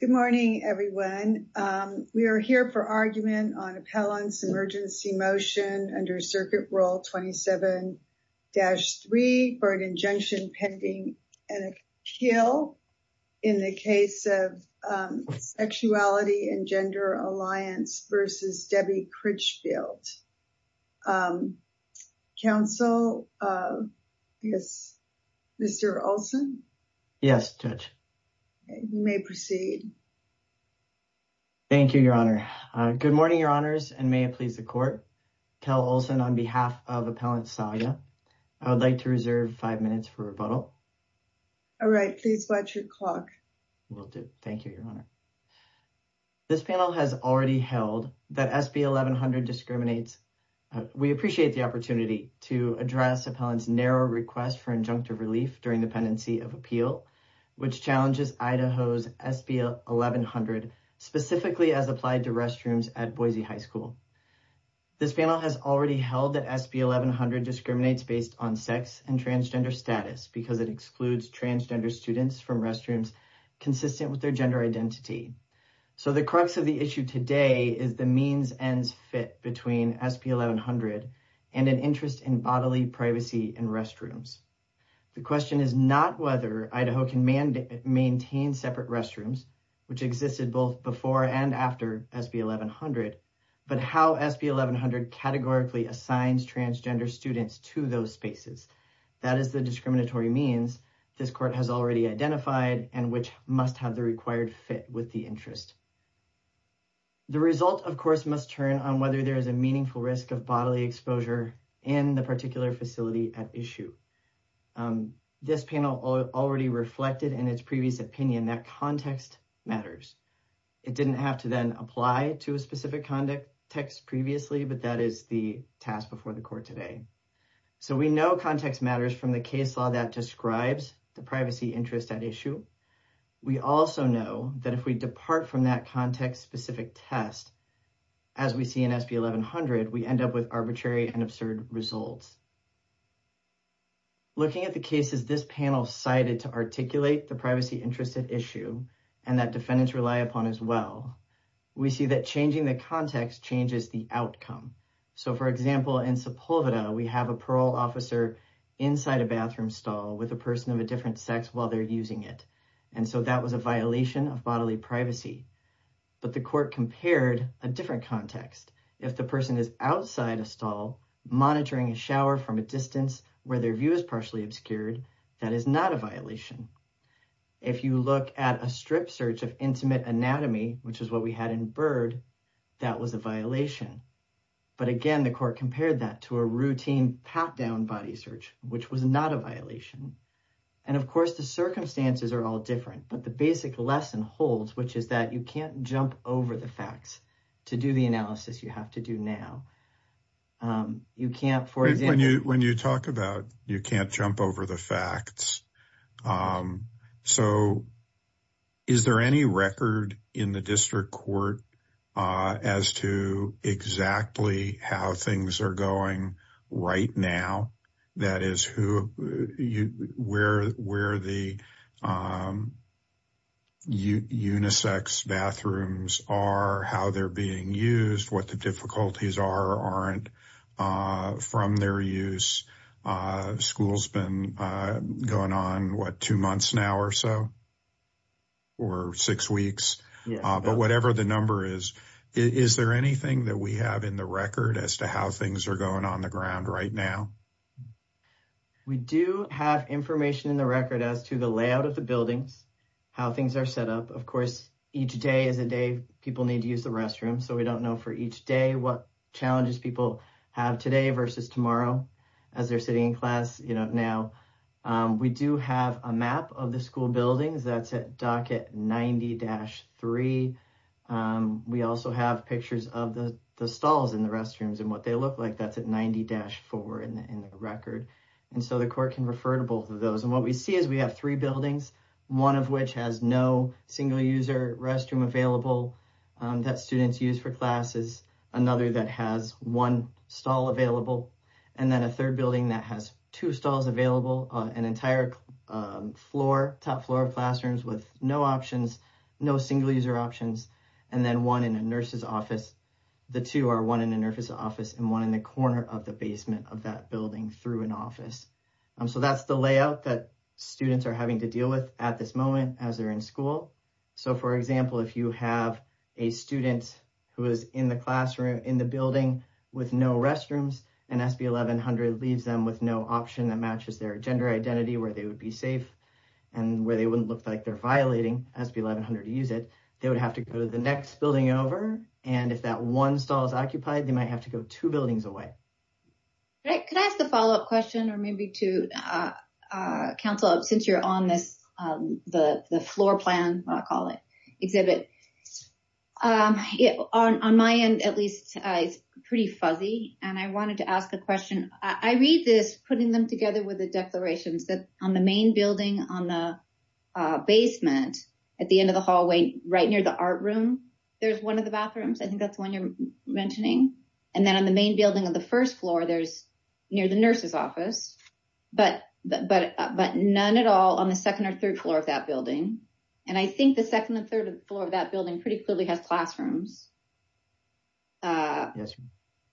Good morning everyone. We are here for argument on Appellant's emergency motion under Circuit Rule 27-3 for an injunction pending an appeal in the case of Sexuality and Gender Alliance v. Debbie Critchfield. Counsel, Mr. Olson? Yes Judge. You may proceed. Thank you, Your Honor. Good morning, Your Honors, and may it please the Court. Kel Olson on behalf of Appellant Salia. I would like to reserve five minutes for rebuttal. All right. Please watch your clock. Will do. Thank you, Your Honor. This panel has already held that SB 1100 discriminates. We appreciate the opportunity to address Appellant's narrow request for injunctive relief during the pendency of appeal, which challenges Idaho's SB 1100 specifically as applied to restrooms at Boise High School. This panel has already held that SB 1100 discriminates based on sex and transgender status because it excludes transgender students from restrooms consistent with their gender identity. So the crux of the issue today is the means ends fit between SB 1100 and an interest in bodily privacy in restrooms. The question is not whether Idaho can maintain separate restrooms, which existed both before and after SB 1100, but how SB 1100 categorically assigns transgender students to those spaces. That is the discriminatory means this Court has already identified and which must have the required fit with the interest. The result, of course, must turn on whether there is a meaningful risk of bodily exposure in the particular facility at issue. This panel already reflected in its previous opinion that context matters. It didn't have to then apply to a specific context previously, but that is the task before the Court today. So we know context matters from the case law that describes the privacy interest at issue. We also know that if we depart from that context-specific test, as we see in SB 1100, we end up with arbitrary and absurd results. Looking at the cases this panel cited to articulate the privacy interest at issue and that defendants rely upon as well, we see that changing the context changes the outcome. So for example, in Sepulveda, we have a parole officer inside a bathroom stall with a person of a different sex while they're using it, and so that was a violation of bodily privacy. But the Court compared a different context. If the person is outside a stall monitoring a shower from a distance where their view is partially obscured, that is not a violation. If you look at a strip search of intimate anatomy, which is what we had in Byrd, that was a violation. But again, the Court compared that to a routine pat-down body search, which was not a violation. And of course, the circumstances are all different, but the basic lesson holds, which is that you can't jump over the facts to do the analysis you have to do now. When you talk about you can't jump over the facts, so is there any record in the District Court as to exactly how things are going right now? That is, where the unisex bathrooms are, how they're being used, what the difficulties are or aren't from their use. School's been going on, what, two months now or so? Or six weeks? But whatever the number is, is there anything that we have in the record as to how things are going on the ground right now? We do have information in the record as to the layout of the buildings, how things are set up. Of course, each day is a day people need to use the restroom, so we don't know for each day what challenges people have today versus tomorrow as they're sitting in class, you know, now. We do have a map of the school buildings that's at docket 90-3. We also have pictures of the stalls in the restrooms and what they look like. That's at 90-4 in the record, and so the court can refer to both of those. And what we see is we have three buildings, one of which has no single-user restroom available that students use for classes, another that has one stall available, and then a third building that has two stalls available, an entire floor, top floor of classrooms with no options, no single-user options, and then one in a nurse's office. The two are one in a nurse's office and one in the corner of the basement of that building through an office. So that's the layout that students are having to deal with at this moment as they're in school. So for example, if you have a student who is in the classroom in building with no restrooms and SB 1100 leaves them with no option that matches their gender identity where they would be safe and where they wouldn't look like they're violating SB 1100 to use it, they would have to go to the next building over, and if that one stall is occupied, they might have to go two buildings away. Great. Could I ask a follow-up question or maybe to counsel, since you're on the floor plan, what I call it, exhibit. On my end, at least, it's pretty fuzzy, and I wanted to ask a question. I read this, putting them together with the declarations, that on the main building on the basement at the end of the hallway right near the art room, there's one of the bathrooms. I think that's the one you're mentioning. And then on the main on the second or third floor of that building, and I think the second and third floor of that building pretty clearly has classrooms. Yes.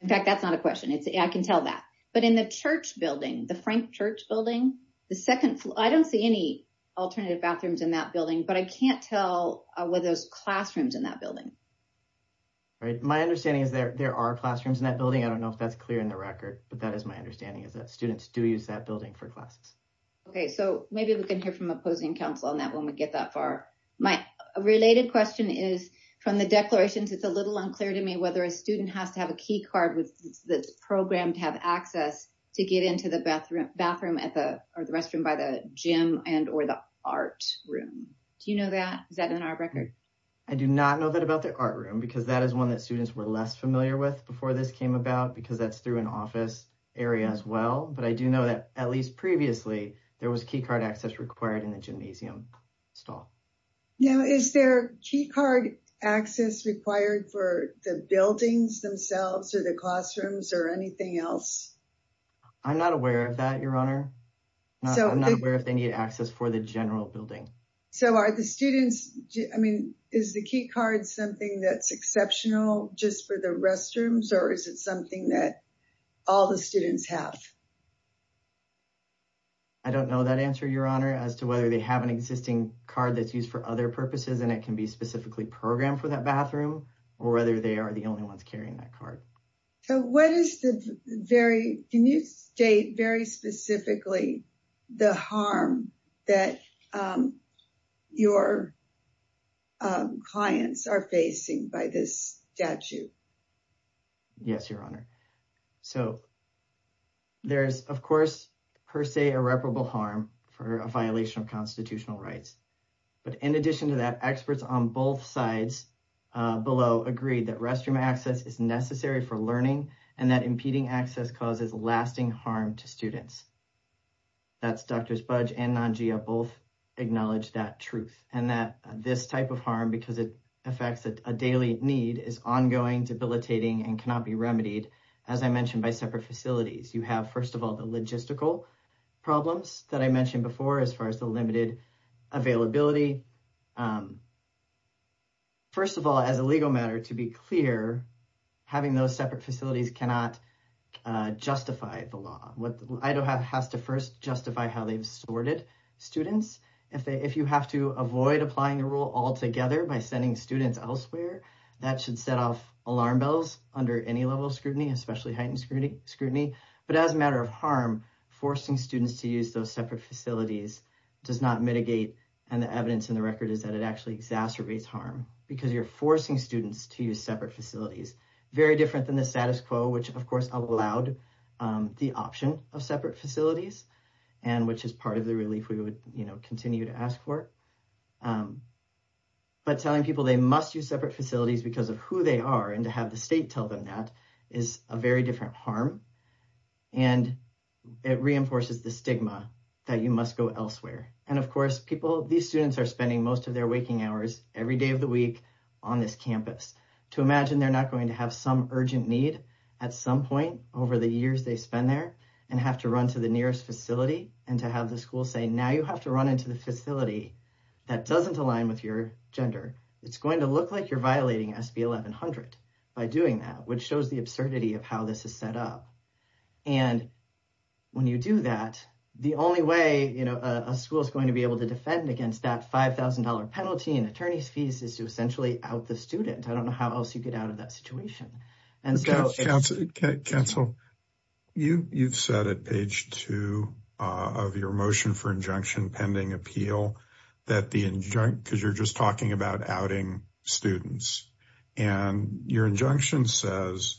In fact, that's not a question. I can tell that. But in the church building, the Frank Church building, the second floor, I don't see any alternative bathrooms in that building, but I can't tell whether there's classrooms in that building. Right. My understanding is there are classrooms in that building. I don't know if that's clear in the record, but that is my understanding is that students do use that building for classes. Okay. So maybe we can hear from opposing counsel on that when we get that far. My related question is, from the declarations, it's a little unclear to me whether a student has to have a key card that's programmed to have access to get into the bathroom or the restroom by the gym and or the art room. Do you know that? Is that in our record? I do not know that about the art room, because that is one that students were less familiar with before this came about, because that's through an office area as well. But I do know that, at least previously, there was key card access required in the gymnasium stall. Now, is there key card access required for the buildings themselves or the classrooms or anything else? I'm not aware of that, Your Honor. I'm not aware if they need access for the general building. So are the students, I mean, is the key card something that's exceptional just for the restrooms, or is it something that all the students have? I don't know that answer, Your Honor, as to whether they have an existing card that's used for other purposes and it can be specifically programmed for that bathroom or whether they are the only ones carrying that card. So what is the very, can you state very specifically the harm that your clients are facing by this statute? Yes, Your Honor. So there's, of course, per se irreparable harm for a violation of constitutional rights. But in addition to that, experts on both sides below agreed that restroom access is necessary for learning and that impeding access causes lasting harm to students. That's Dr. Spudge and Nanjia both acknowledge that truth and that this type of harm, because it cannot be remedied, as I mentioned, by separate facilities. You have, first of all, the logistical problems that I mentioned before, as far as the limited availability. First of all, as a legal matter, to be clear, having those separate facilities cannot justify the law. Idaho has to first justify how they've sorted students. If you have to avoid applying the rule altogether by sending students elsewhere, that should set off alarm bells under any level of scrutiny, especially heightened scrutiny. But as a matter of harm, forcing students to use those separate facilities does not mitigate. And the evidence in the record is that it actually exacerbates harm because you're forcing students to use separate facilities. Very different than the status quo, which, of course, allowed the option of separate facilities and which is part of the relief we would, you know, continue to ask for. But telling people they must use separate facilities because of who they are and to have the state tell them that is a very different harm. And it reinforces the stigma that you must go elsewhere. And of course, people, these students are spending most of their waking hours every day of the week on this campus. To imagine they're not going to have some urgent need at some point over the years they spend there and have to run to the nearest facility and to have the school say, now you have to run into the facility that doesn't align with your gender. It's going to look like you're violating SB 1100 by doing that, which shows the absurdity of how this is set up. And when you do that, the only way, you know, a school is going to be able to defend against that $5,000 penalty and attorney's fees is to essentially out the student. I don't counsel you. You've said at page two of your motion for injunction pending appeal that the injunct because you're just talking about outing students and your injunction says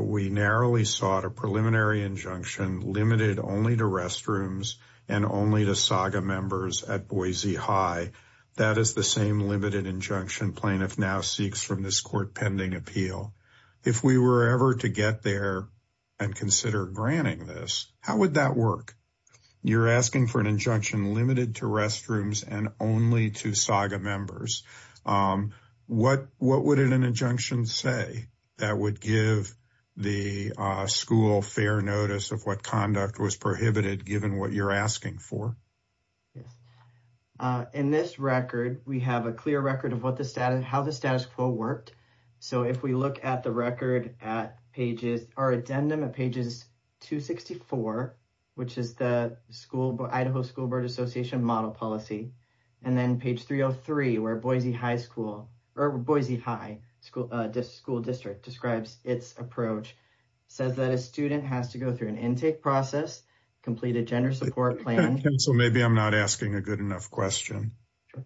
we narrowly sought a preliminary injunction limited only to restrooms and only to saga members at Boise High. That is the same limited injunction plaintiff now seeks from this court appeal. If we were ever to get there and consider granting this, how would that work? You're asking for an injunction limited to restrooms and only to saga members. What would an injunction say that would give the school fair notice of what conduct was prohibited given what you're asking for? Yes. In this record, we have a clear record of how the status quo worked. So if we look at the record at pages, our addendum at pages 264, which is the school Idaho School Board Association model policy, and then page 303, where Boise High School or Boise High School District describes its approach, says that a student has to go through an intake process, complete a gender support plan. So maybe I'm not asking a good enough question.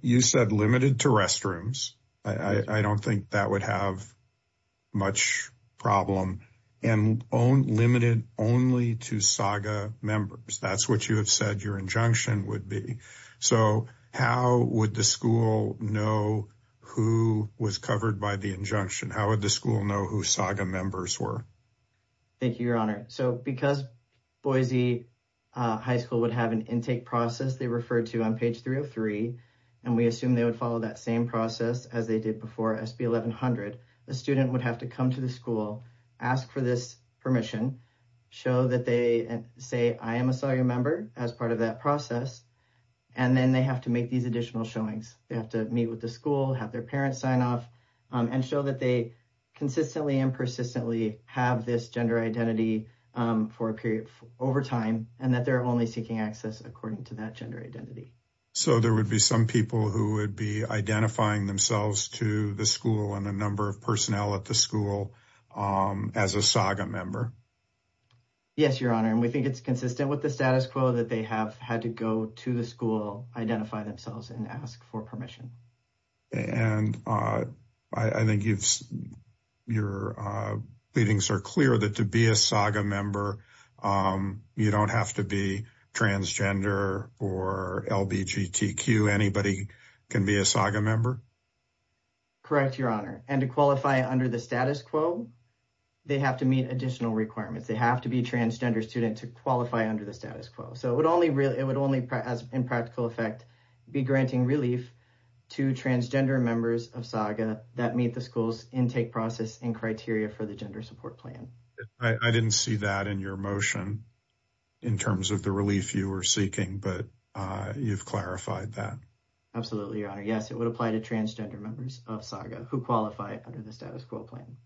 You said limited to restrooms. I don't think that would have much problem and own limited only to saga members. That's what you have said your injunction would be. So how would the school know who was covered by the injunction? How would the school know who saga members were? Thank you, Your Honor. So because Boise High School would have an intake process, referred to on page 303, and we assume they would follow that same process as they did before SB 1100, a student would have to come to the school, ask for this permission, show that they say, I am a saga member as part of that process, and then they have to make these additional showings. They have to meet with the school, have their parents sign off, and show that they consistently and persistently have this gender identity for a period over time, and that they're only seeking access according to that gender identity. So there would be some people who would be identifying themselves to the school and a number of personnel at the school as a saga member? Yes, Your Honor, and we think it's consistent with the status quo that they have had to go to the school, identify themselves and ask for permission. And I think you've, your readings are clear that to be a saga member, you don't have to be transgender or LBGTQ. Anybody can be a saga member? Correct, Your Honor. And to qualify under the status quo, they have to meet additional requirements. They have to be a transgender student to qualify under the status quo. So it would only, in practical effect, be granting relief to transgender members of saga that meet the school's intake process and criteria for the gender support plan. I didn't see that in your motion in terms of the relief you were seeking, but you've clarified that. Absolutely, Your Honor. Yes, it would apply to transgender members of saga who qualify under the status quo plan.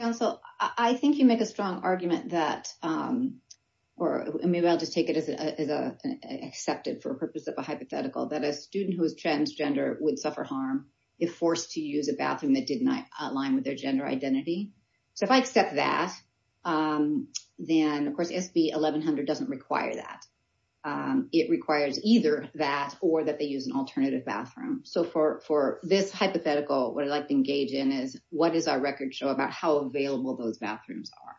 Counsel, I think you make a strong argument that, or maybe I'll just take it as an accepted for purpose of a hypothetical, that a student who is transgender would suffer harm if forced to use a bathroom that did not align with their gender identity. So if I accept that, then of course SB 1100 doesn't require that. It requires either that or that they use an alternative bathroom. So for this hypothetical, what I'd like to engage in is what does our record show about how available those bathrooms are?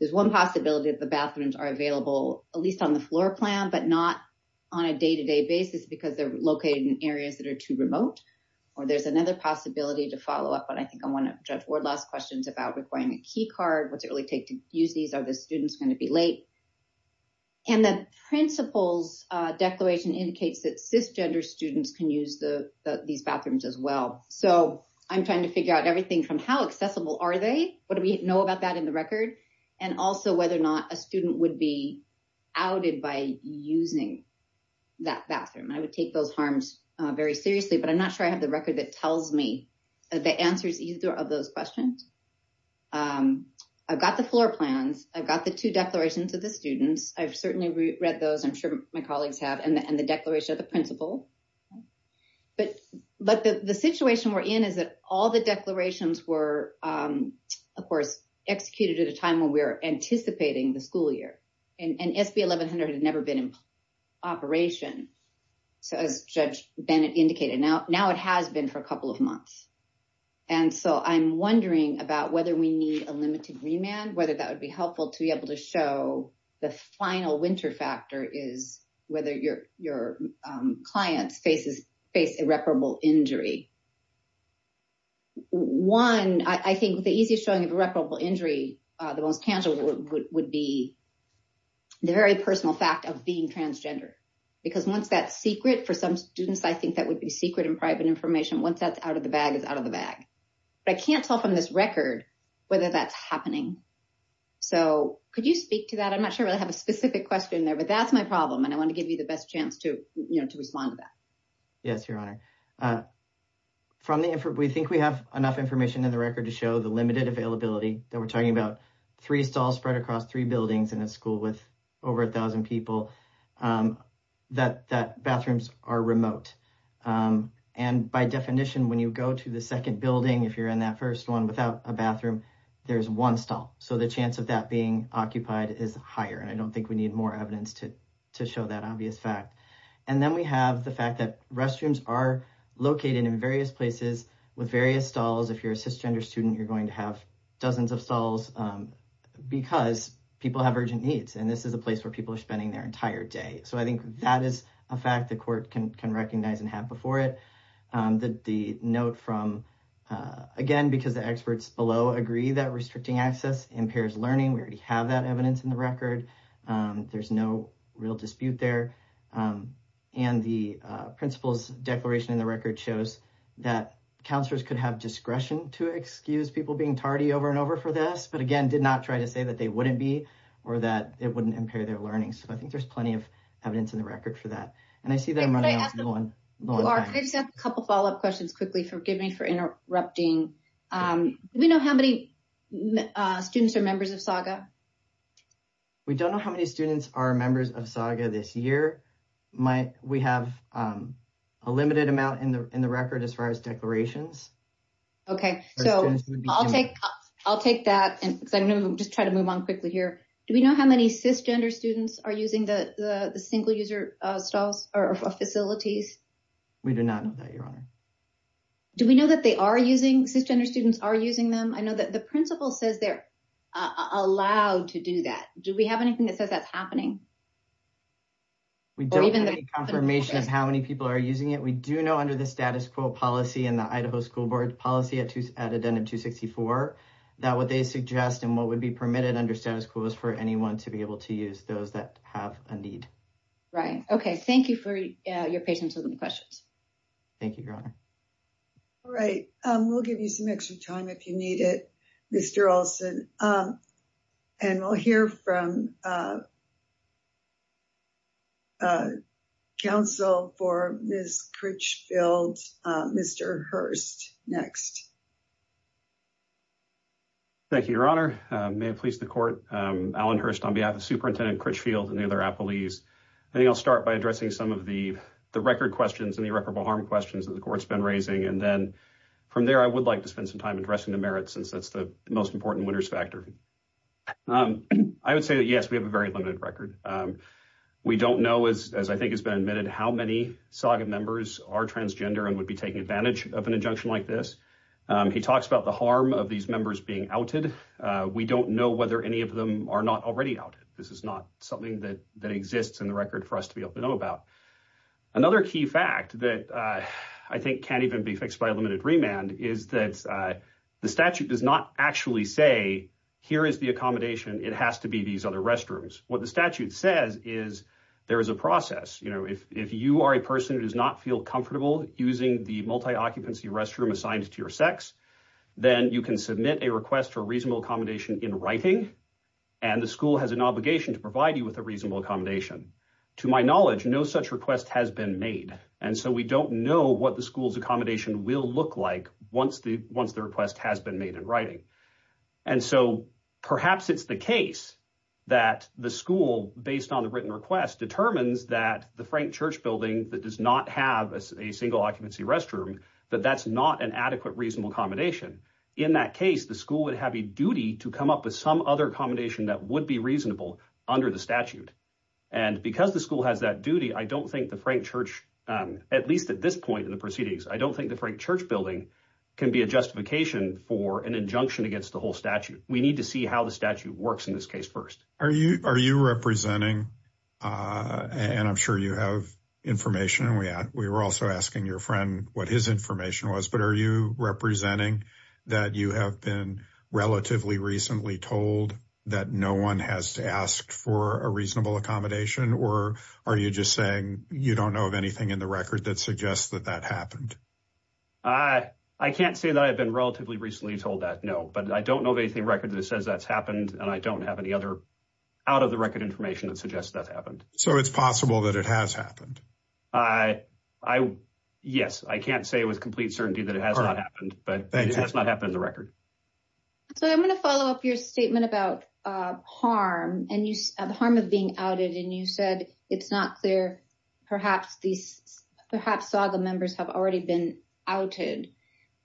There's one possibility that the bathrooms are available, at least on the floor plan, but not on a day-to-day basis because they're located in areas that are too remote. Or there's another possibility to follow up, but I think I want to judge Wardlaw's questions about requiring a key card. What's it really take to use these? Are the students going to be late? And the principal's declaration indicates that cisgender students can use these bathrooms as well. So I'm trying to figure out everything from how accessible are they? What do we know about that in the record? And also whether or not a student would be outed by using that bathroom. I would take those harms very seriously, but I'm not sure I have the record that tells me the answers either of those questions. I've got the floor plans. I've got the two declarations of the students. I've certainly read those, I'm sure my colleagues have, and the declaration of the principal. But the situation we're in is that all the declarations were, of course, executed at a time when we were anticipating the school year. And SB 1100 had never been in operation. So as Judge Bennett indicated, now it has been for a couple of months. And so I'm wondering about whether we need a limited remand, whether that would be helpful to be able to show the final winter factor is whether your clients face irreparable injury. One, I think the easiest showing of irreparable injury, the most tangible would be the very personal fact of being transgender. Because once that's secret, for some students, I think that would be secret and private information. Once that's out of the bag, it's out of the bag. But I can't tell from this record whether that's happening. So could you speak to that? I'm not sure I have a specific question there, but that's my problem. And I want to give you the best chance to respond to that. Yes, Your Honor. We think we have enough information in the record to show the limited availability that we're talking about. Three stalls spread across three buildings in a school with over a thousand people, that bathrooms are remote. And by definition, when you go to the second building, if you're in that first one without a bathroom, there's one stall. So the chance of that being occupied is higher. And I don't think we need more evidence to show that And then we have the fact that restrooms are located in various places with various stalls. If you're a cisgender student, you're going to have dozens of stalls because people have urgent needs. And this is a place where people are spending their entire day. So I think that is a fact the court can recognize and have before it. The note from, again, because the experts below agree that restricting access impairs learning. We already have that evidence in the record. There's no real dispute there. And the principal's declaration in the record shows that counselors could have discretion to excuse people being tardy over and over for this, but again, did not try to say that they wouldn't be or that it wouldn't impair their learning. So I think there's plenty of evidence in the record for that. And I see them running low on time. I just have a couple of follow-up questions quickly. Forgive me for interrupting. Do we know how many students are members of SAGA? We don't know how many students are members of SAGA this year. We have a limited amount in the record as far as declarations. Okay. So I'll take that and just try to move on quickly here. Do we know how many cisgender students are using the single user facilities? We do not know that, Your Honor. Do we know that they are using, cisgender students are using them? I know that the Do we have anything that says that's happening? We don't have any confirmation of how many people are using it. We do know under the status quo policy and the Idaho School Board policy at Addendum 264 that what they suggest and what would be permitted under status quo is for anyone to be able to use those that have a need. Right. Okay. Thank you for your patience with the questions. Thank you, Your Honor. All right. We'll give you some extra time if you need it, Mr. Olson. And we'll hear from counsel for Ms. Critchfield, Mr. Hurst next. Thank you, Your Honor. May it please the court, Alan Hurst on behalf of Superintendent Critchfield and the other appellees. I think I'll start by addressing some of the record questions and the irreparable harm questions that the court's been raising. And then from there, I would like to say that, yes, we have a very limited record. We don't know, as I think has been admitted, how many SAGA members are transgender and would be taking advantage of an injunction like this. He talks about the harm of these members being outed. We don't know whether any of them are not already outed. This is not something that exists in the record for us to be able to know about. Another key fact that I think can't even be fixed by a limited remand is that the statute does not actually say, here is the accommodation. It has to be these other restrooms. What the statute says is there is a process. If you are a person who does not feel comfortable using the multi-occupancy restroom assigned to your sex, then you can submit a request for reasonable accommodation in writing. And the school has an obligation to provide you with a reasonable accommodation. To my knowledge, no such request has been made. We don't know what the school's accommodation will look like once the request has been made in writing. Perhaps it's the case that the school, based on the written request, determines that the Frank Church building that does not have a single occupancy restroom, that that's not an adequate reasonable accommodation. In that case, the school would have a duty to come up with some other accommodation that would be reasonable under the statute. And because the school has that duty, I don't think the Frank Church, at least at this point in the proceedings, I don't think the Frank Church building can be a justification for an injunction against the whole statute. We need to see how the statute works in this case first. Are you representing, and I'm sure you have information, and we were also asking your friend what his information was, but are you a reasonable accommodation, or are you just saying you don't know of anything in the record that suggests that that happened? I can't say that I've been relatively recently told that, no. But I don't know of anything in record that says that's happened, and I don't have any other out-of-the-record information that suggests that's happened. So it's possible that it has happened? Yes, I can't say with complete certainty that it has not happened, but it has not happened in the record. So I'm going to follow up your statement about harm and the harm of being outed, and you said it's not clear. Perhaps Saga members have already been outed,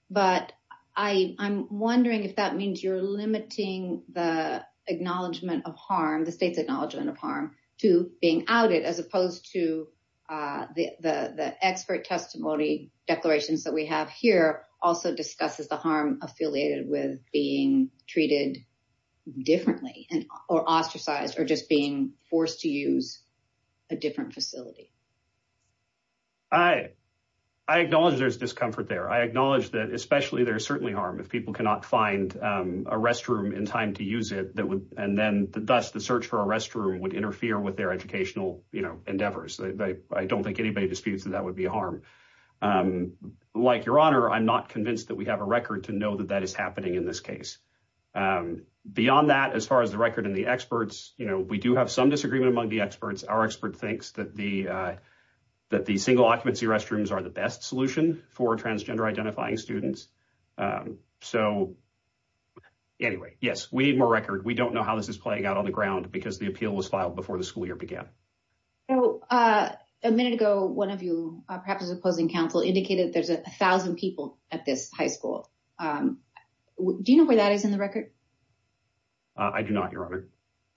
but I'm wondering if that means you're limiting the state's acknowledgement of harm to being outed as opposed to the expert testimony declarations that we have here also discusses the harm affiliated with being treated differently, or ostracized, or just being forced to use a different facility. I acknowledge there's discomfort there. I acknowledge that especially there's certainly harm if people cannot find a restroom in time to use it, and then the dust, the search for a restroom, would interfere with their educational endeavors. I don't think anybody disputes that that would be a harm. Like Your Honor, I'm not convinced that we have a that is happening in this case. Beyond that, as far as the record and the experts, you know, we do have some disagreement among the experts. Our expert thinks that the single occupancy restrooms are the best solution for transgender identifying students. So anyway, yes, we need more record. We don't know how this is playing out on the ground because the appeal was filed before the school year began. A minute ago, one of you, perhaps as a opposing counsel, indicated there's a thousand people at this high school. Do you know where that is in the record? I do not, Your Honor.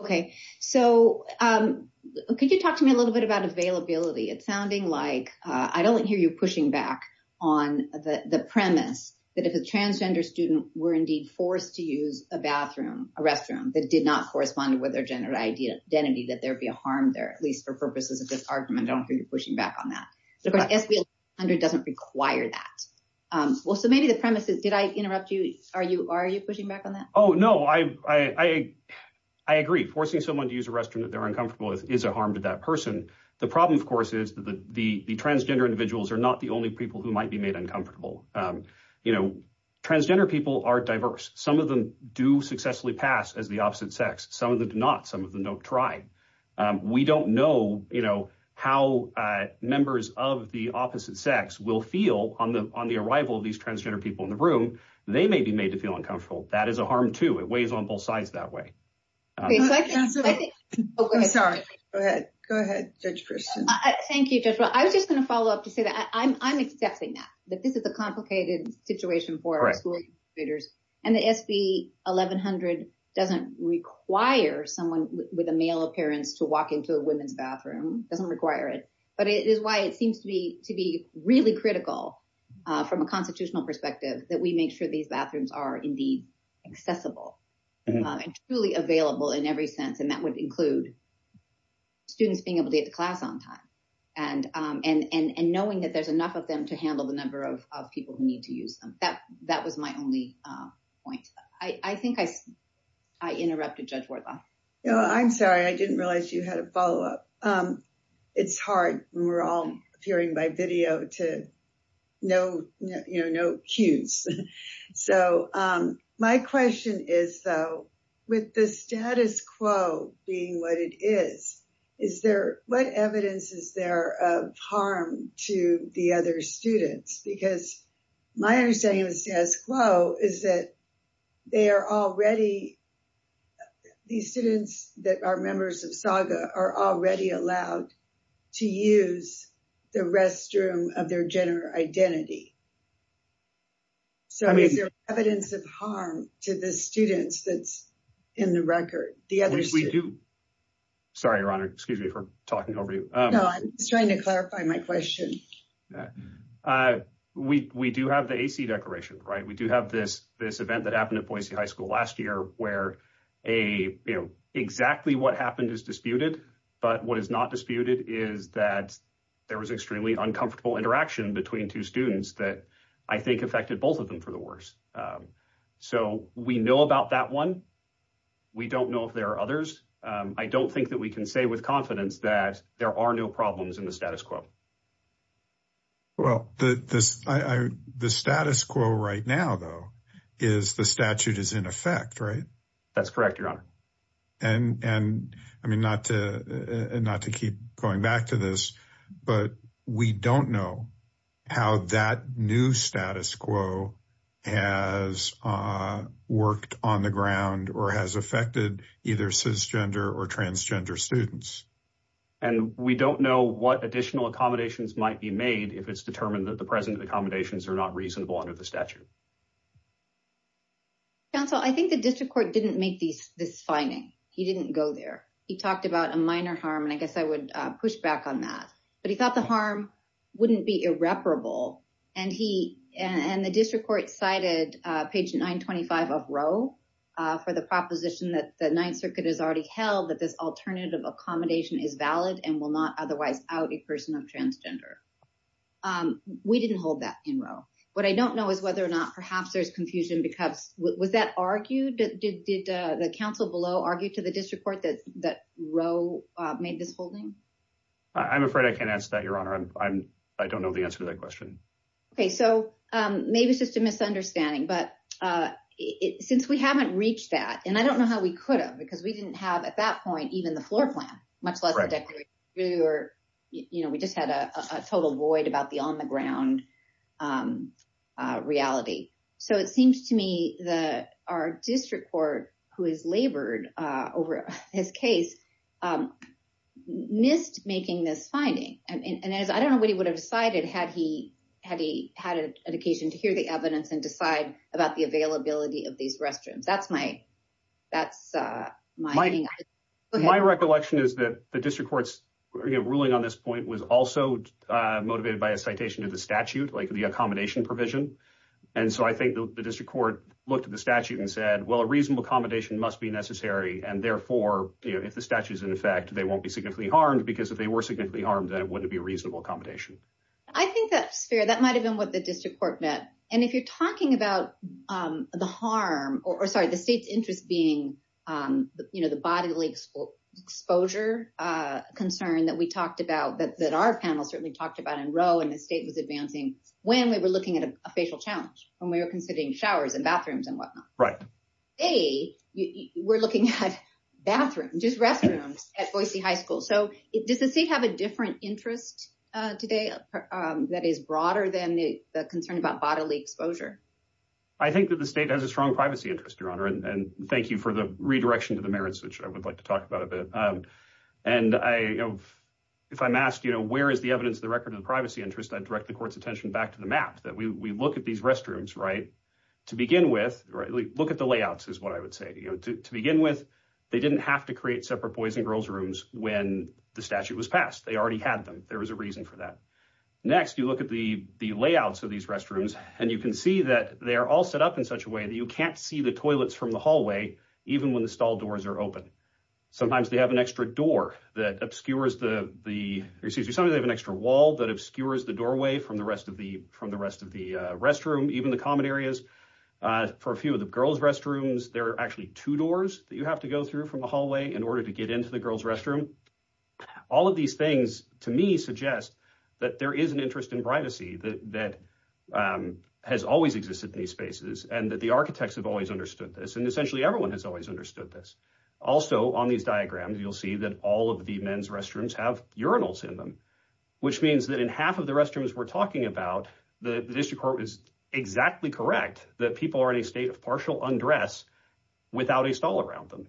Okay, so could you talk to me a little bit about availability? It's sounding like I don't hear you pushing back on the premise that if a transgender student were indeed forced to use a bathroom, a restroom that did not correspond with their gender identity, that there'd be a harm there, at least for purposes of this argument. I don't hear you require that. Well, so maybe the premise is, did I interrupt you? Are you pushing back on that? Oh, no, I agree. Forcing someone to use a restroom that they're uncomfortable with is a harm to that person. The problem, of course, is that the transgender individuals are not the only people who might be made uncomfortable. You know, transgender people are diverse. Some of them do successfully pass as the opposite sex. Some of them do not. Some of them don't try. We don't know, you know, how members of the opposite sex will feel on the arrival of these transgender people in the room. They may be made to feel uncomfortable. That is a harm, too. It weighs on both sides that way. I'm sorry. Go ahead. Go ahead, Judge Christian. Thank you, Judge. I was just going to follow up to say that I'm accepting that, that this is a complicated situation for school educators. And the SB 1100 doesn't require someone with a male appearance to walk into a women's bathroom. It doesn't require it. But it is why it seems to be really critical from a constitutional perspective that we make sure these bathrooms are indeed accessible and truly available in every sense. And that would include students being able to get to class on time and knowing that there's enough of them to handle the number of people who need to use them. That was my only point. I think I interrupted Judge Wardlaw. No, I'm sorry. I didn't realize you had a follow up. It's hard. We're all hearing by video to know, you know, no cues. So my question is, though, with the status quo being what it is, is there what evidence is there of harm to the other students? Because my understanding of the status quo is that students that are members of SAGA are already allowed to use the restroom of their gender identity. So is there evidence of harm to the students that's in the record? At least we do. Sorry, Your Honor, excuse me for talking over you. No, I'm just trying to clarify my question. We do have the AC declaration, right? We do have this event that happened at Boise High School last year where exactly what happened is disputed. But what is not disputed is that there was extremely uncomfortable interaction between two students that I think affected both of them for the worst. So we know about that one. We don't know if there are others. I don't think that we can say with confidence that there are no problems in the status quo. Well, the status quo right now, though, is the statute is in effect, right? That's correct, Your Honor. And I mean, not to keep going back to this, but we don't know how that new status quo has worked on the ground or has affected either cisgender or transgender students. And we don't know what additional accommodations might be made if it's determined that the present accommodations are not reasonable under the statute. Counsel, I think the district court didn't make these this finding. He didn't go there. He talked about a minor harm, and I guess I would push back on that. But he thought the harm wouldn't be irreparable. And the district court cited page 925 of Roe for the proposition that the Ninth Circuit has already held that this alternative accommodation is valid and will not otherwise out a person of transgender. We didn't hold that in Roe. What I don't know is whether or not perhaps there's confusion because was that argued? Did the counsel below argue to the district court that Roe made this holding? I'm afraid I can't answer that, Your Honor. I don't know the answer to that question. Okay, so maybe it's just a misunderstanding. But since we haven't reached that, and I don't know how we could have, because we didn't have at that point even the floor plan, much less a declaration of true. We just had a total void about the on the ground reality. So it seems to me that our district court, who has labored over his case, um, missed making this finding. And I don't know what he would have decided had he had an occasion to hear the evidence and decide about the availability of these restrooms. My recollection is that the district court's ruling on this point was also motivated by a citation to the statute, like the accommodation provision. And so I think the district court looked at the statute and said, well, a reasonable accommodation must be necessary, and therefore, if the statute is in effect, they won't be significantly harmed, because if they were significantly harmed, then it wouldn't be a reasonable accommodation. I think that's fair. That might have been what the district court meant. And if you're talking about the harm, or sorry, the state's interest being, you know, the bodily exposure concern that we talked about, that our panel certainly talked about in Roe, and the state was advancing, when we were looking at a facial challenge, when we were considering showers and bathrooms and whatnot. Right. Today, we're looking at bathrooms, just restrooms at Boise High School. So does the state have a different interest today that is broader than the concern about bodily exposure? I think that the state has a strong privacy interest, Your Honor, and thank you for the redirection to the merits, which I would like to talk about a bit. And I, you know, if I'm asked, you know, where is the evidence of the record of the privacy interest, I'd direct the court's attention to the restrooms, right? To begin with, look at the layouts is what I would say, you know, to begin with, they didn't have to create separate boys and girls rooms when the statute was passed. They already had them. There was a reason for that. Next, you look at the layouts of these restrooms, and you can see that they are all set up in such a way that you can't see the toilets from the hallway, even when the stall doors are open. Sometimes they have an extra door that obscures the, excuse me, sometimes they have an extra wall that obscures the doorway from the rest of the restroom, even the common areas. For a few of the girls restrooms, there are actually two doors that you have to go through from the hallway in order to get into the girls restroom. All of these things, to me, suggest that there is an interest in privacy that has always existed in these spaces, and that the architects have always understood this, and essentially everyone has always understood this. Also, on these diagrams, you'll see that all of the men's restrooms have urinals in them, which means that in half of the restrooms we're talking about, the district court is exactly correct that people are in a state of partial undress without a stall around them.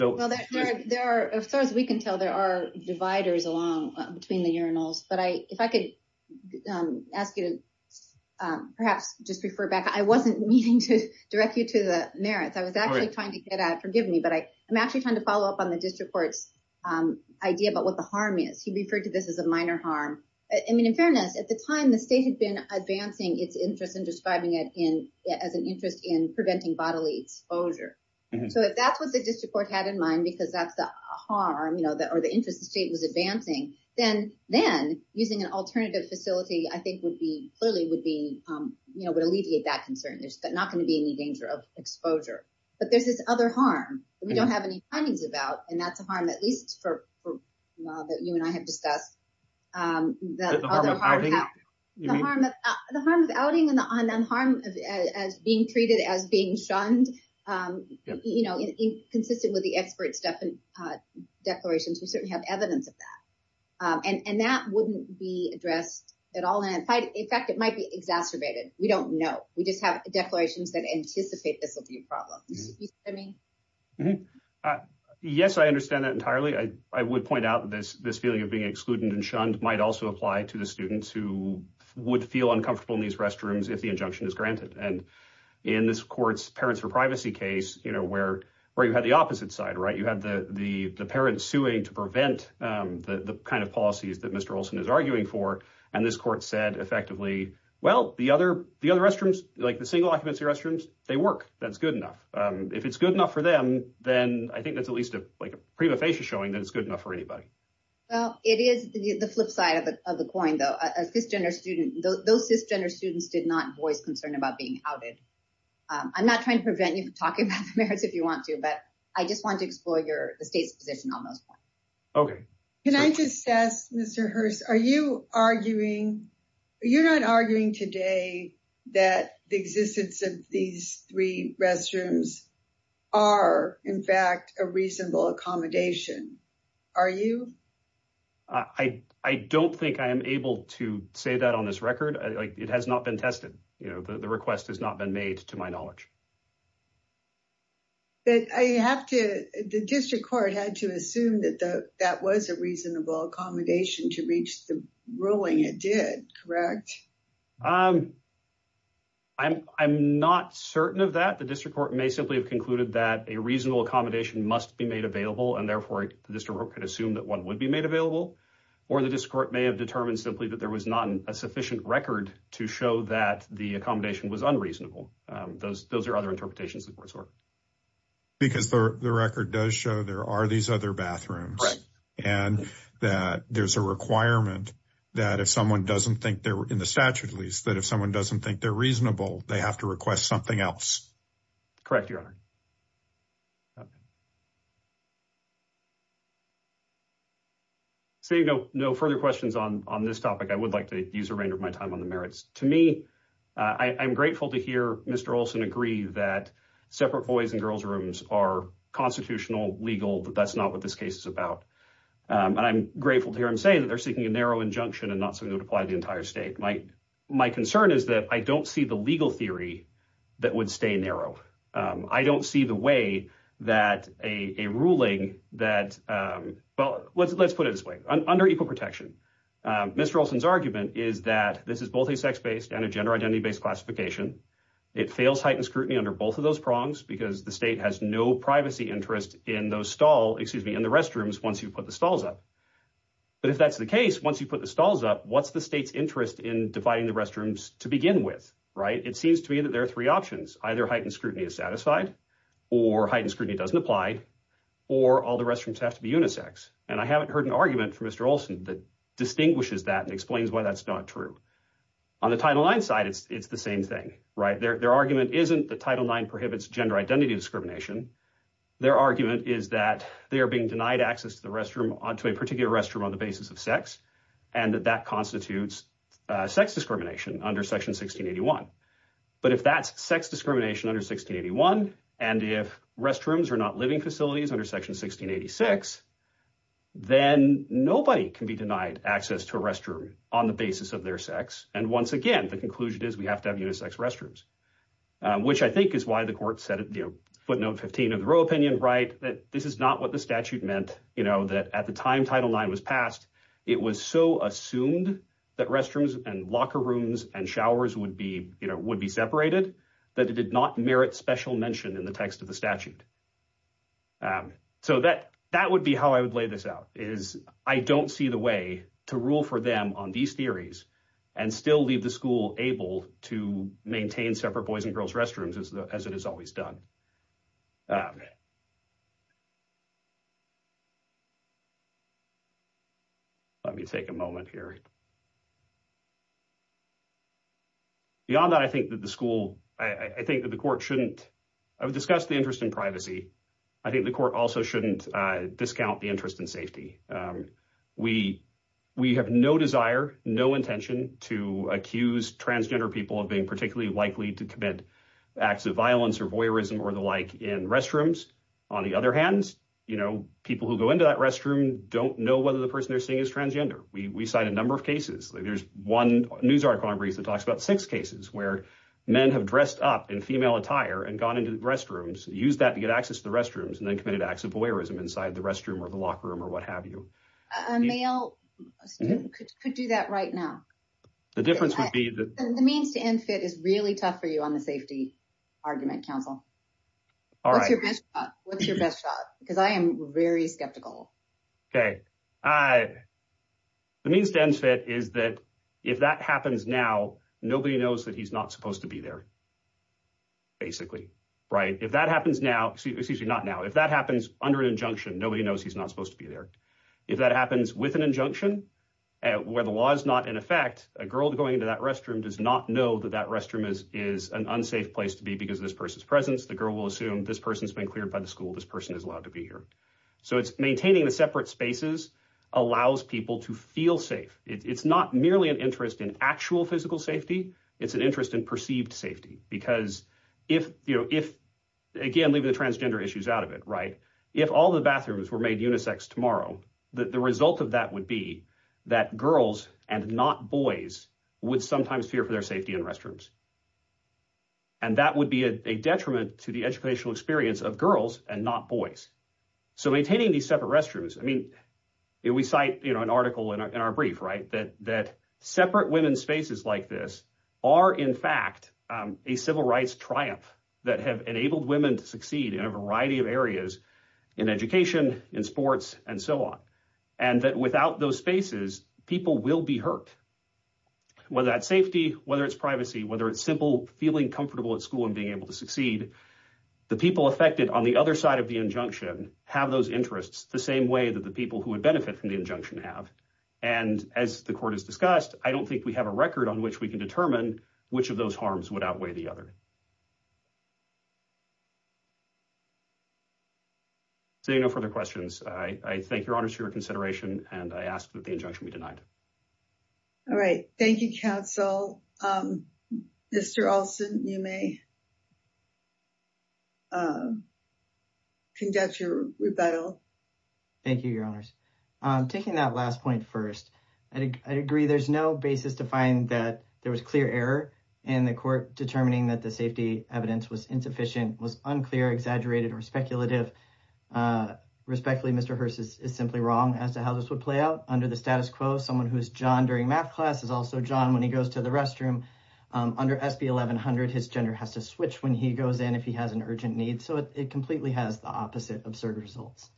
Well, as far as we can tell, there are dividers along between the urinals, but if I could ask you to perhaps just refer back. I wasn't meaning to direct you to the merits. I was actually trying to get at, forgive me, but I'm actually trying to follow up on the district court's idea about what the harm is. He referred to this as a minor harm. I mean, in fairness, at the time, the state had been advancing its interest in describing it as an interest in preventing bodily exposure. So, if that's what the district court had in mind because that's the harm or the interest the state was advancing, then using an alternative facility, I think, clearly would alleviate that concern. There's not going to be any danger of exposure, but there's this other harm that we don't have any findings about, and that's a harm, at least for a while, that you and I have discussed. The harm of outing and the harm of being treated as being shunned, you know, consistent with the experts' declarations. We certainly have evidence of that, and that wouldn't be addressed at all. In fact, it might be exacerbated. We don't know. We just have declarations that anticipate this will be a problem. You see what I mean? Yes, I understand that entirely. I would point out this feeling of being excluded and shunned might also apply to the students who would feel uncomfortable in these restrooms if the injunction is granted. And in this court's parents for privacy case, you know, where you had the opposite side, right? You had the parents suing to prevent the kind of policies that Mr. Olson is arguing for, and this court said effectively, well, the other restrooms, like the single occupancy restrooms, they work. That's good enough. If it's good enough for them, then I think that's at least like a prima facie showing that it's good enough for anybody. Well, it is the flip side of the coin, though. Those cisgender students did not voice concern about being outed. I'm not trying to prevent you from talking about the merits if you want to, but I just want to explore the state's position on those points. Okay. Can I just ask, Mr. Hurst, are you arguing, you're not arguing today that the existence of these three restrooms are in fact a reasonable accommodation, are you? I don't think I am able to say that on this record. It has not been tested. You know, the request has not been made to my knowledge. But I have to, the District Court had to assume that that was a reasonable accommodation to reach the ruling it did, correct? I'm not certain of that. The District Court may simply have concluded that a reasonable accommodation must be made available, and therefore the District Court could assume that one would be made available, or the District Court may have determined simply that there was not a sufficient record to show that the accommodation was unreasonable. Those are other interpretations of the Court's order. Because the record does show there are these other bathrooms, and that there's a requirement that if someone doesn't think they're, in the statute at least, that if someone doesn't think they're reasonable, they have to request something else. Correct, Your Honor. Okay. Seeing no further questions on this topic, I would like to use the remainder of my time on the merits. To me, I'm grateful to hear Mr. Olson agree that separate boys' and girls' rooms are constitutional, legal, that that's not what this case is about. And I'm grateful to hear him say that they're seeking a narrow injunction and not something that would apply to the entire state. My concern is that I don't see the legal theory that would stay narrow. I don't see the way that a ruling that, well, let's put it this way. Under equal protection, Mr. Olson's argument is that this is both a sex-based and a gender identity-based classification. It fails heightened scrutiny under both of those prongs because the state has no privacy interest in those stall, excuse me, in the restrooms once you put the stalls up. But if that's the case, once you put the stalls up, what's the state's interest in dividing the restrooms to begin with, right? It seems to me that there are three options. Either heightened scrutiny is satisfied, or heightened scrutiny doesn't apply, or all the restrooms have to be unisex. And I haven't heard an argument from Mr. Olson that distinguishes that and explains why that's not true. On the Title IX side, it's the same thing, right? Their argument isn't that Title IX prohibits gender identity discrimination. Their argument is that they are being denied access to a particular restroom on the basis of and that that constitutes sex discrimination under Section 1681. But if that's sex discrimination under 1681, and if restrooms are not living facilities under Section 1686, then nobody can be denied access to a restroom on the basis of their sex. And once again, the conclusion is we have to have unisex restrooms, which I think is why the court said, you know, footnote 15 of the Roe opinion, right, that this is not what the statute meant, you know, that at the time Title IX was passed, it was so assumed that restrooms and locker rooms and showers would be, you know, would be separated, that it did not merit special mention in the text of the statute. So that would be how I would lay this out, is I don't see the way to rule for them on these theories and still leave the school able to maintain separate boys and girls restrooms as it has always done. Let me take a moment here. Beyond that, I think that the school, I think that the court shouldn't, I would discuss the interest in privacy. I think the court also shouldn't discount the interest in safety. We have no desire, no intention to accuse transgender people of being particularly likely to commit acts of violence or voyeurism or the like in restrooms. On the other hand, you know, people who go into that restroom don't know whether the person they're seeing is transgender. We cite a number of cases. There's one news article on Breeze that talks about six cases where men have dressed up in female attire and gone into the restrooms, used that to get access to the restrooms and then committed acts of voyeurism inside the restroom or the locker room or what have you. A male student could do that right now. The difference would be that. The means to end fit is really tough for you on the safety argument, counsel. All right. What's your best shot? Because I am very skeptical. Okay. The means to end fit is that if that happens now, nobody knows that he's not supposed to be there. Basically, right? If that happens now, excuse me, not now. If that happens under an injunction, nobody knows he's not supposed to be there. If that happens with an injunction where the law is not in effect, a girl going into that restroom does not know that that restroom is an unsafe place to be because of this person's presence. The girl will assume this person's been cleared by the school. This person is allowed to be here. So it's maintaining the separate spaces allows people to feel safe. It's not merely an interest in actual physical safety. It's an interest in perceived safety. Because if, again, leaving the transgender issues out of it, right? If all the bathrooms were made unisex tomorrow, the result of that would be that girls and not boys would sometimes fear for their safety in restrooms. And that would be a detriment to the educational experience of girls and not boys. So maintaining these separate restrooms, I mean, we cite an article in our brief, right? That separate women's spaces like this are, in fact, a civil rights triumph that have enabled women to succeed in a variety of areas in education, in sports, and so on. And that without those spaces, people will be hurt. Whether that's safety, whether it's privacy, whether it's simple feeling comfortable at school and being able to succeed, the people affected on the other side of the injunction have those interests the same way that the people who would benefit from the injunction have. And as the court has discussed, I don't think we have a record on which we can determine which of those harms would outweigh the other. Seeing no further questions, I thank your honors for your consideration, and I ask that the injunction be denied. All right. Thank you, counsel. Mr. Olson, you may conduct your rebuttal. Thank you, your honors. Taking that last point first, I agree there's no basis to find that there was clear error in the court determining that safety evidence was insufficient, was unclear, exaggerated, or speculative. Respectfully, Mr. Hearst is simply wrong as to how this would play out under the status quo. Someone who is johnned during math class is also johnned when he goes to the restroom. Under SB 1100, his gender has to switch when he goes in if he has an urgent need. So it completely has the opposite absurd results.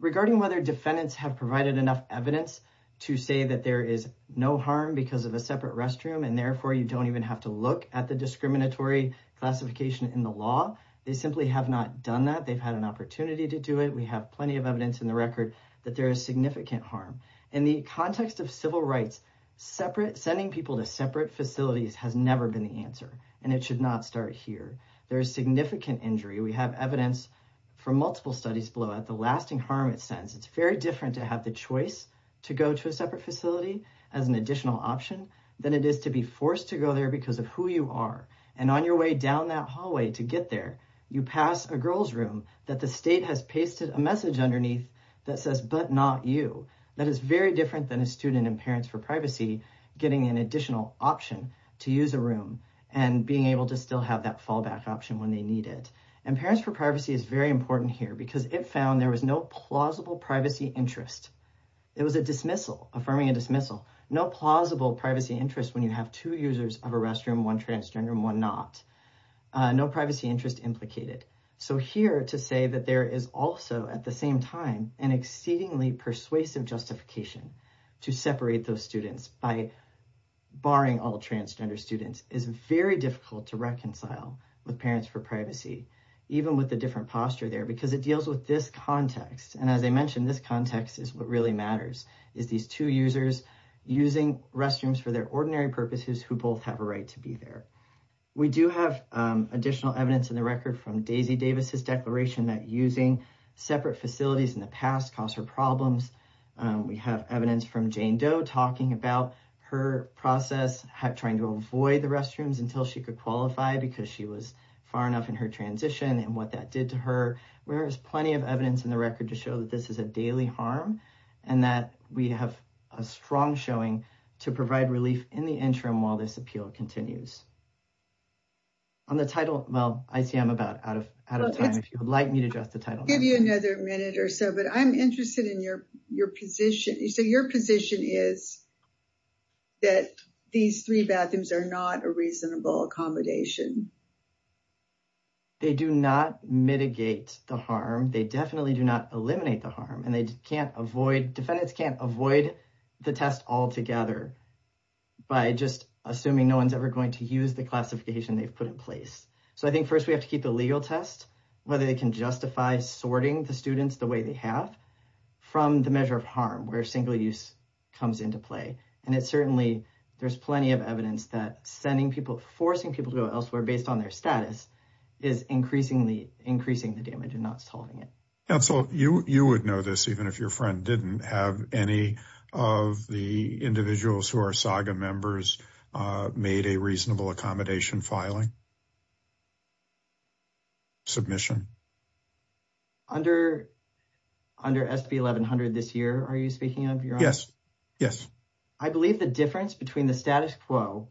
Regarding whether defendants have provided enough evidence to say that there is no harm because of a separate restroom and therefore you don't even have to look at the discriminatory classification in the law, they simply have not done that. They've had an opportunity to do it. We have plenty of evidence in the record that there is significant harm. In the context of civil rights, sending people to separate facilities has never been the answer, and it should not start here. There is significant injury. We have evidence from multiple studies below that the lasting harm it sends, it's very different to have the choice to go to a separate facility as an because of who you are. And on your way down that hallway to get there, you pass a girl's room that the state has pasted a message underneath that says, but not you. That is very different than a student in Parents for Privacy getting an additional option to use a room and being able to still have that fallback option when they need it. And Parents for Privacy is very important here because it found there was no plausible privacy interest. It was a dismissal, affirming a dismissal, no plausible privacy interest when you have two users of a restroom, one transgender and one not, no privacy interest implicated. So here to say that there is also at the same time an exceedingly persuasive justification to separate those students by barring all transgender students is very difficult to reconcile with Parents for Privacy, even with the different posture there, because it deals with this context. And as I mentioned, this context is what really matters, is these two users using restrooms for their ordinary purposes, who both have a right to be there. We do have additional evidence in the record from Daisy Davis's declaration that using separate facilities in the past caused her problems. We have evidence from Jane Doe talking about her process, trying to avoid the restrooms until she could qualify because she was far enough in her transition and what that did to her. There is plenty of evidence in the record to show that this is a daily harm and that we have a strong showing to provide relief in the interim while this appeal continues. On the title, well, I see I'm about out of time. If you would like me to address the title. I'll give you another minute or so, but I'm interested in your position. So your position is that these three bathrooms are not a reasonable accommodation. They do not mitigate the harm. They definitely do not eliminate the harm and they can't avoid, defendants can't avoid the test altogether by just assuming no one's ever going to use the classification they've put in place. So I think first we have to keep the legal test, whether they can justify sorting the students the way they have from the measure of harm, where single use comes into play. And it certainly, there's plenty of evidence that sending people, forcing people to go elsewhere based on their status is increasingly increasing the damage and not solving it. And so you, you would know this, even if your friend didn't have any of the individuals who are saga members made a reasonable accommodation filing. Submission under, under SB 1100 this year. Are you speaking of? Yes. Yes. I believe the between the status quo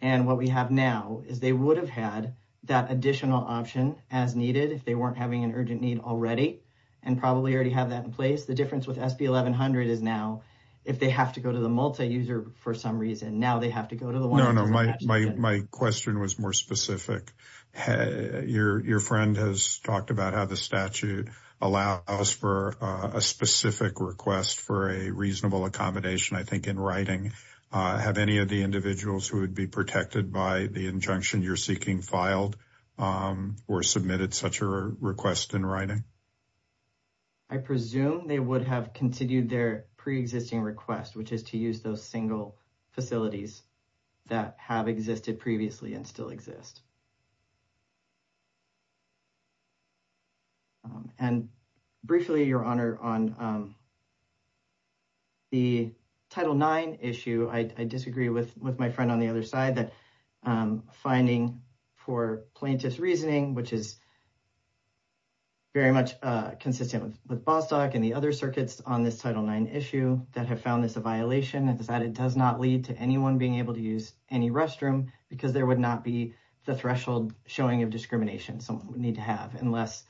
and what we have now is they would have had that additional option as needed if they weren't having an urgent need already and probably already have that in place. The difference with SB 1100 is now if they have to go to the multi-user for some reason, now they have to go to the one. No, no, my, my, my question was more specific. Your friend has talked about how the statute allows for a specific request for a reasonable accommodation. I think in writing, have any of the individuals who would be protected by the injunction you're seeking filed or submitted such a request in writing? I presume they would have continued their pre-existing request, which is to use those single facilities that have existed previously and still exist. And briefly, your Honor, on the Title IX issue, I disagree with, with my friend on the other side, that finding for plaintiff's reasoning, which is very much consistent with Bostock and the other circuits on this Title IX issue that have found this a violation and that it does not lead to anyone being able to use any restroom because there would not be the facility that would be threshold showing of discrimination someone would need to have unless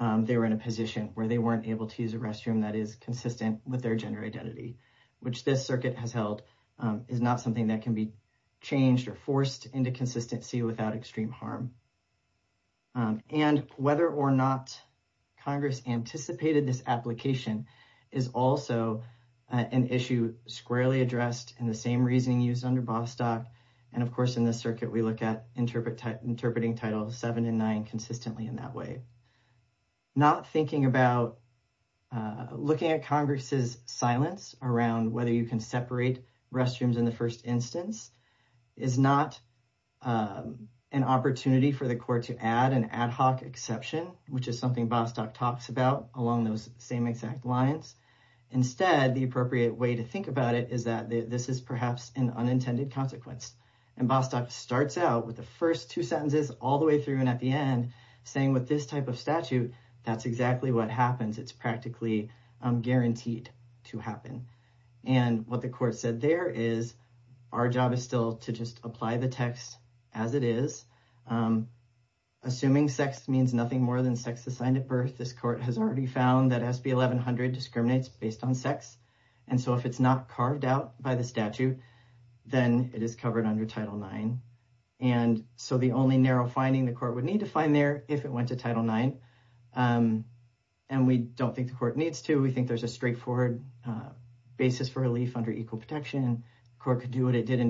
they were in a position where they weren't able to use a restroom that is consistent with their gender identity, which this circuit has held, is not something that can be changed or forced into consistency without extreme harm. And whether or not Congress anticipated this application is also an issue squarely addressed in the same reasoning used under Bostock. And of course, in this circuit, we look at interpreting Title VII and IX consistently in that way. Not thinking about looking at Congress's silence around whether you can separate restrooms in the first instance is not an opportunity for the court to add an ad hoc exception, which is something Bostock talks about along those same exact lines. Instead, the appropriate way to think about it is that this is perhaps an unintended consequence. And Bostock starts out with the first two sentences all the way through and at the end saying with this type of statute, that's exactly what happens. It's practically guaranteed to happen. And what the court said there is our job is still to just apply the text as it is. Assuming sex means nothing more than sex assigned at birth, this has already found that SB 1100 discriminates based on sex. And so if it's not carved out by the statute, then it is covered under Title IX. And so the only narrow finding the court would need to find there if it went to Title IX, and we don't think the court needs to, we think there's a straightforward basis for relief under equal protection. The court could do what it did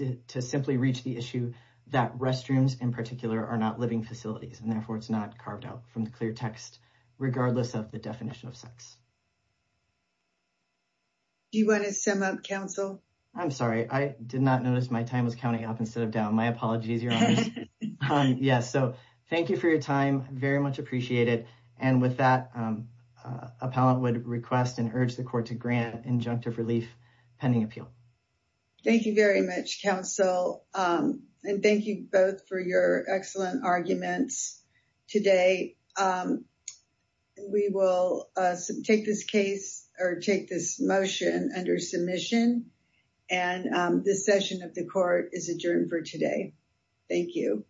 in that restrooms in particular are not living facilities and therefore it's not carved out from the clear text regardless of the definition of sex. Do you want to sum up counsel? I'm sorry, I did not notice my time was counting up instead of down. My apologies. Yes. So thank you for your time. Very much appreciated. And with that, appellant would request and urge the court to grant injunctive relief pending appeal. Thank you very much, counsel. And thank you both for your excellent arguments today. We will take this case or take this motion under submission. And this session of the court is adjourned for today. Thank you.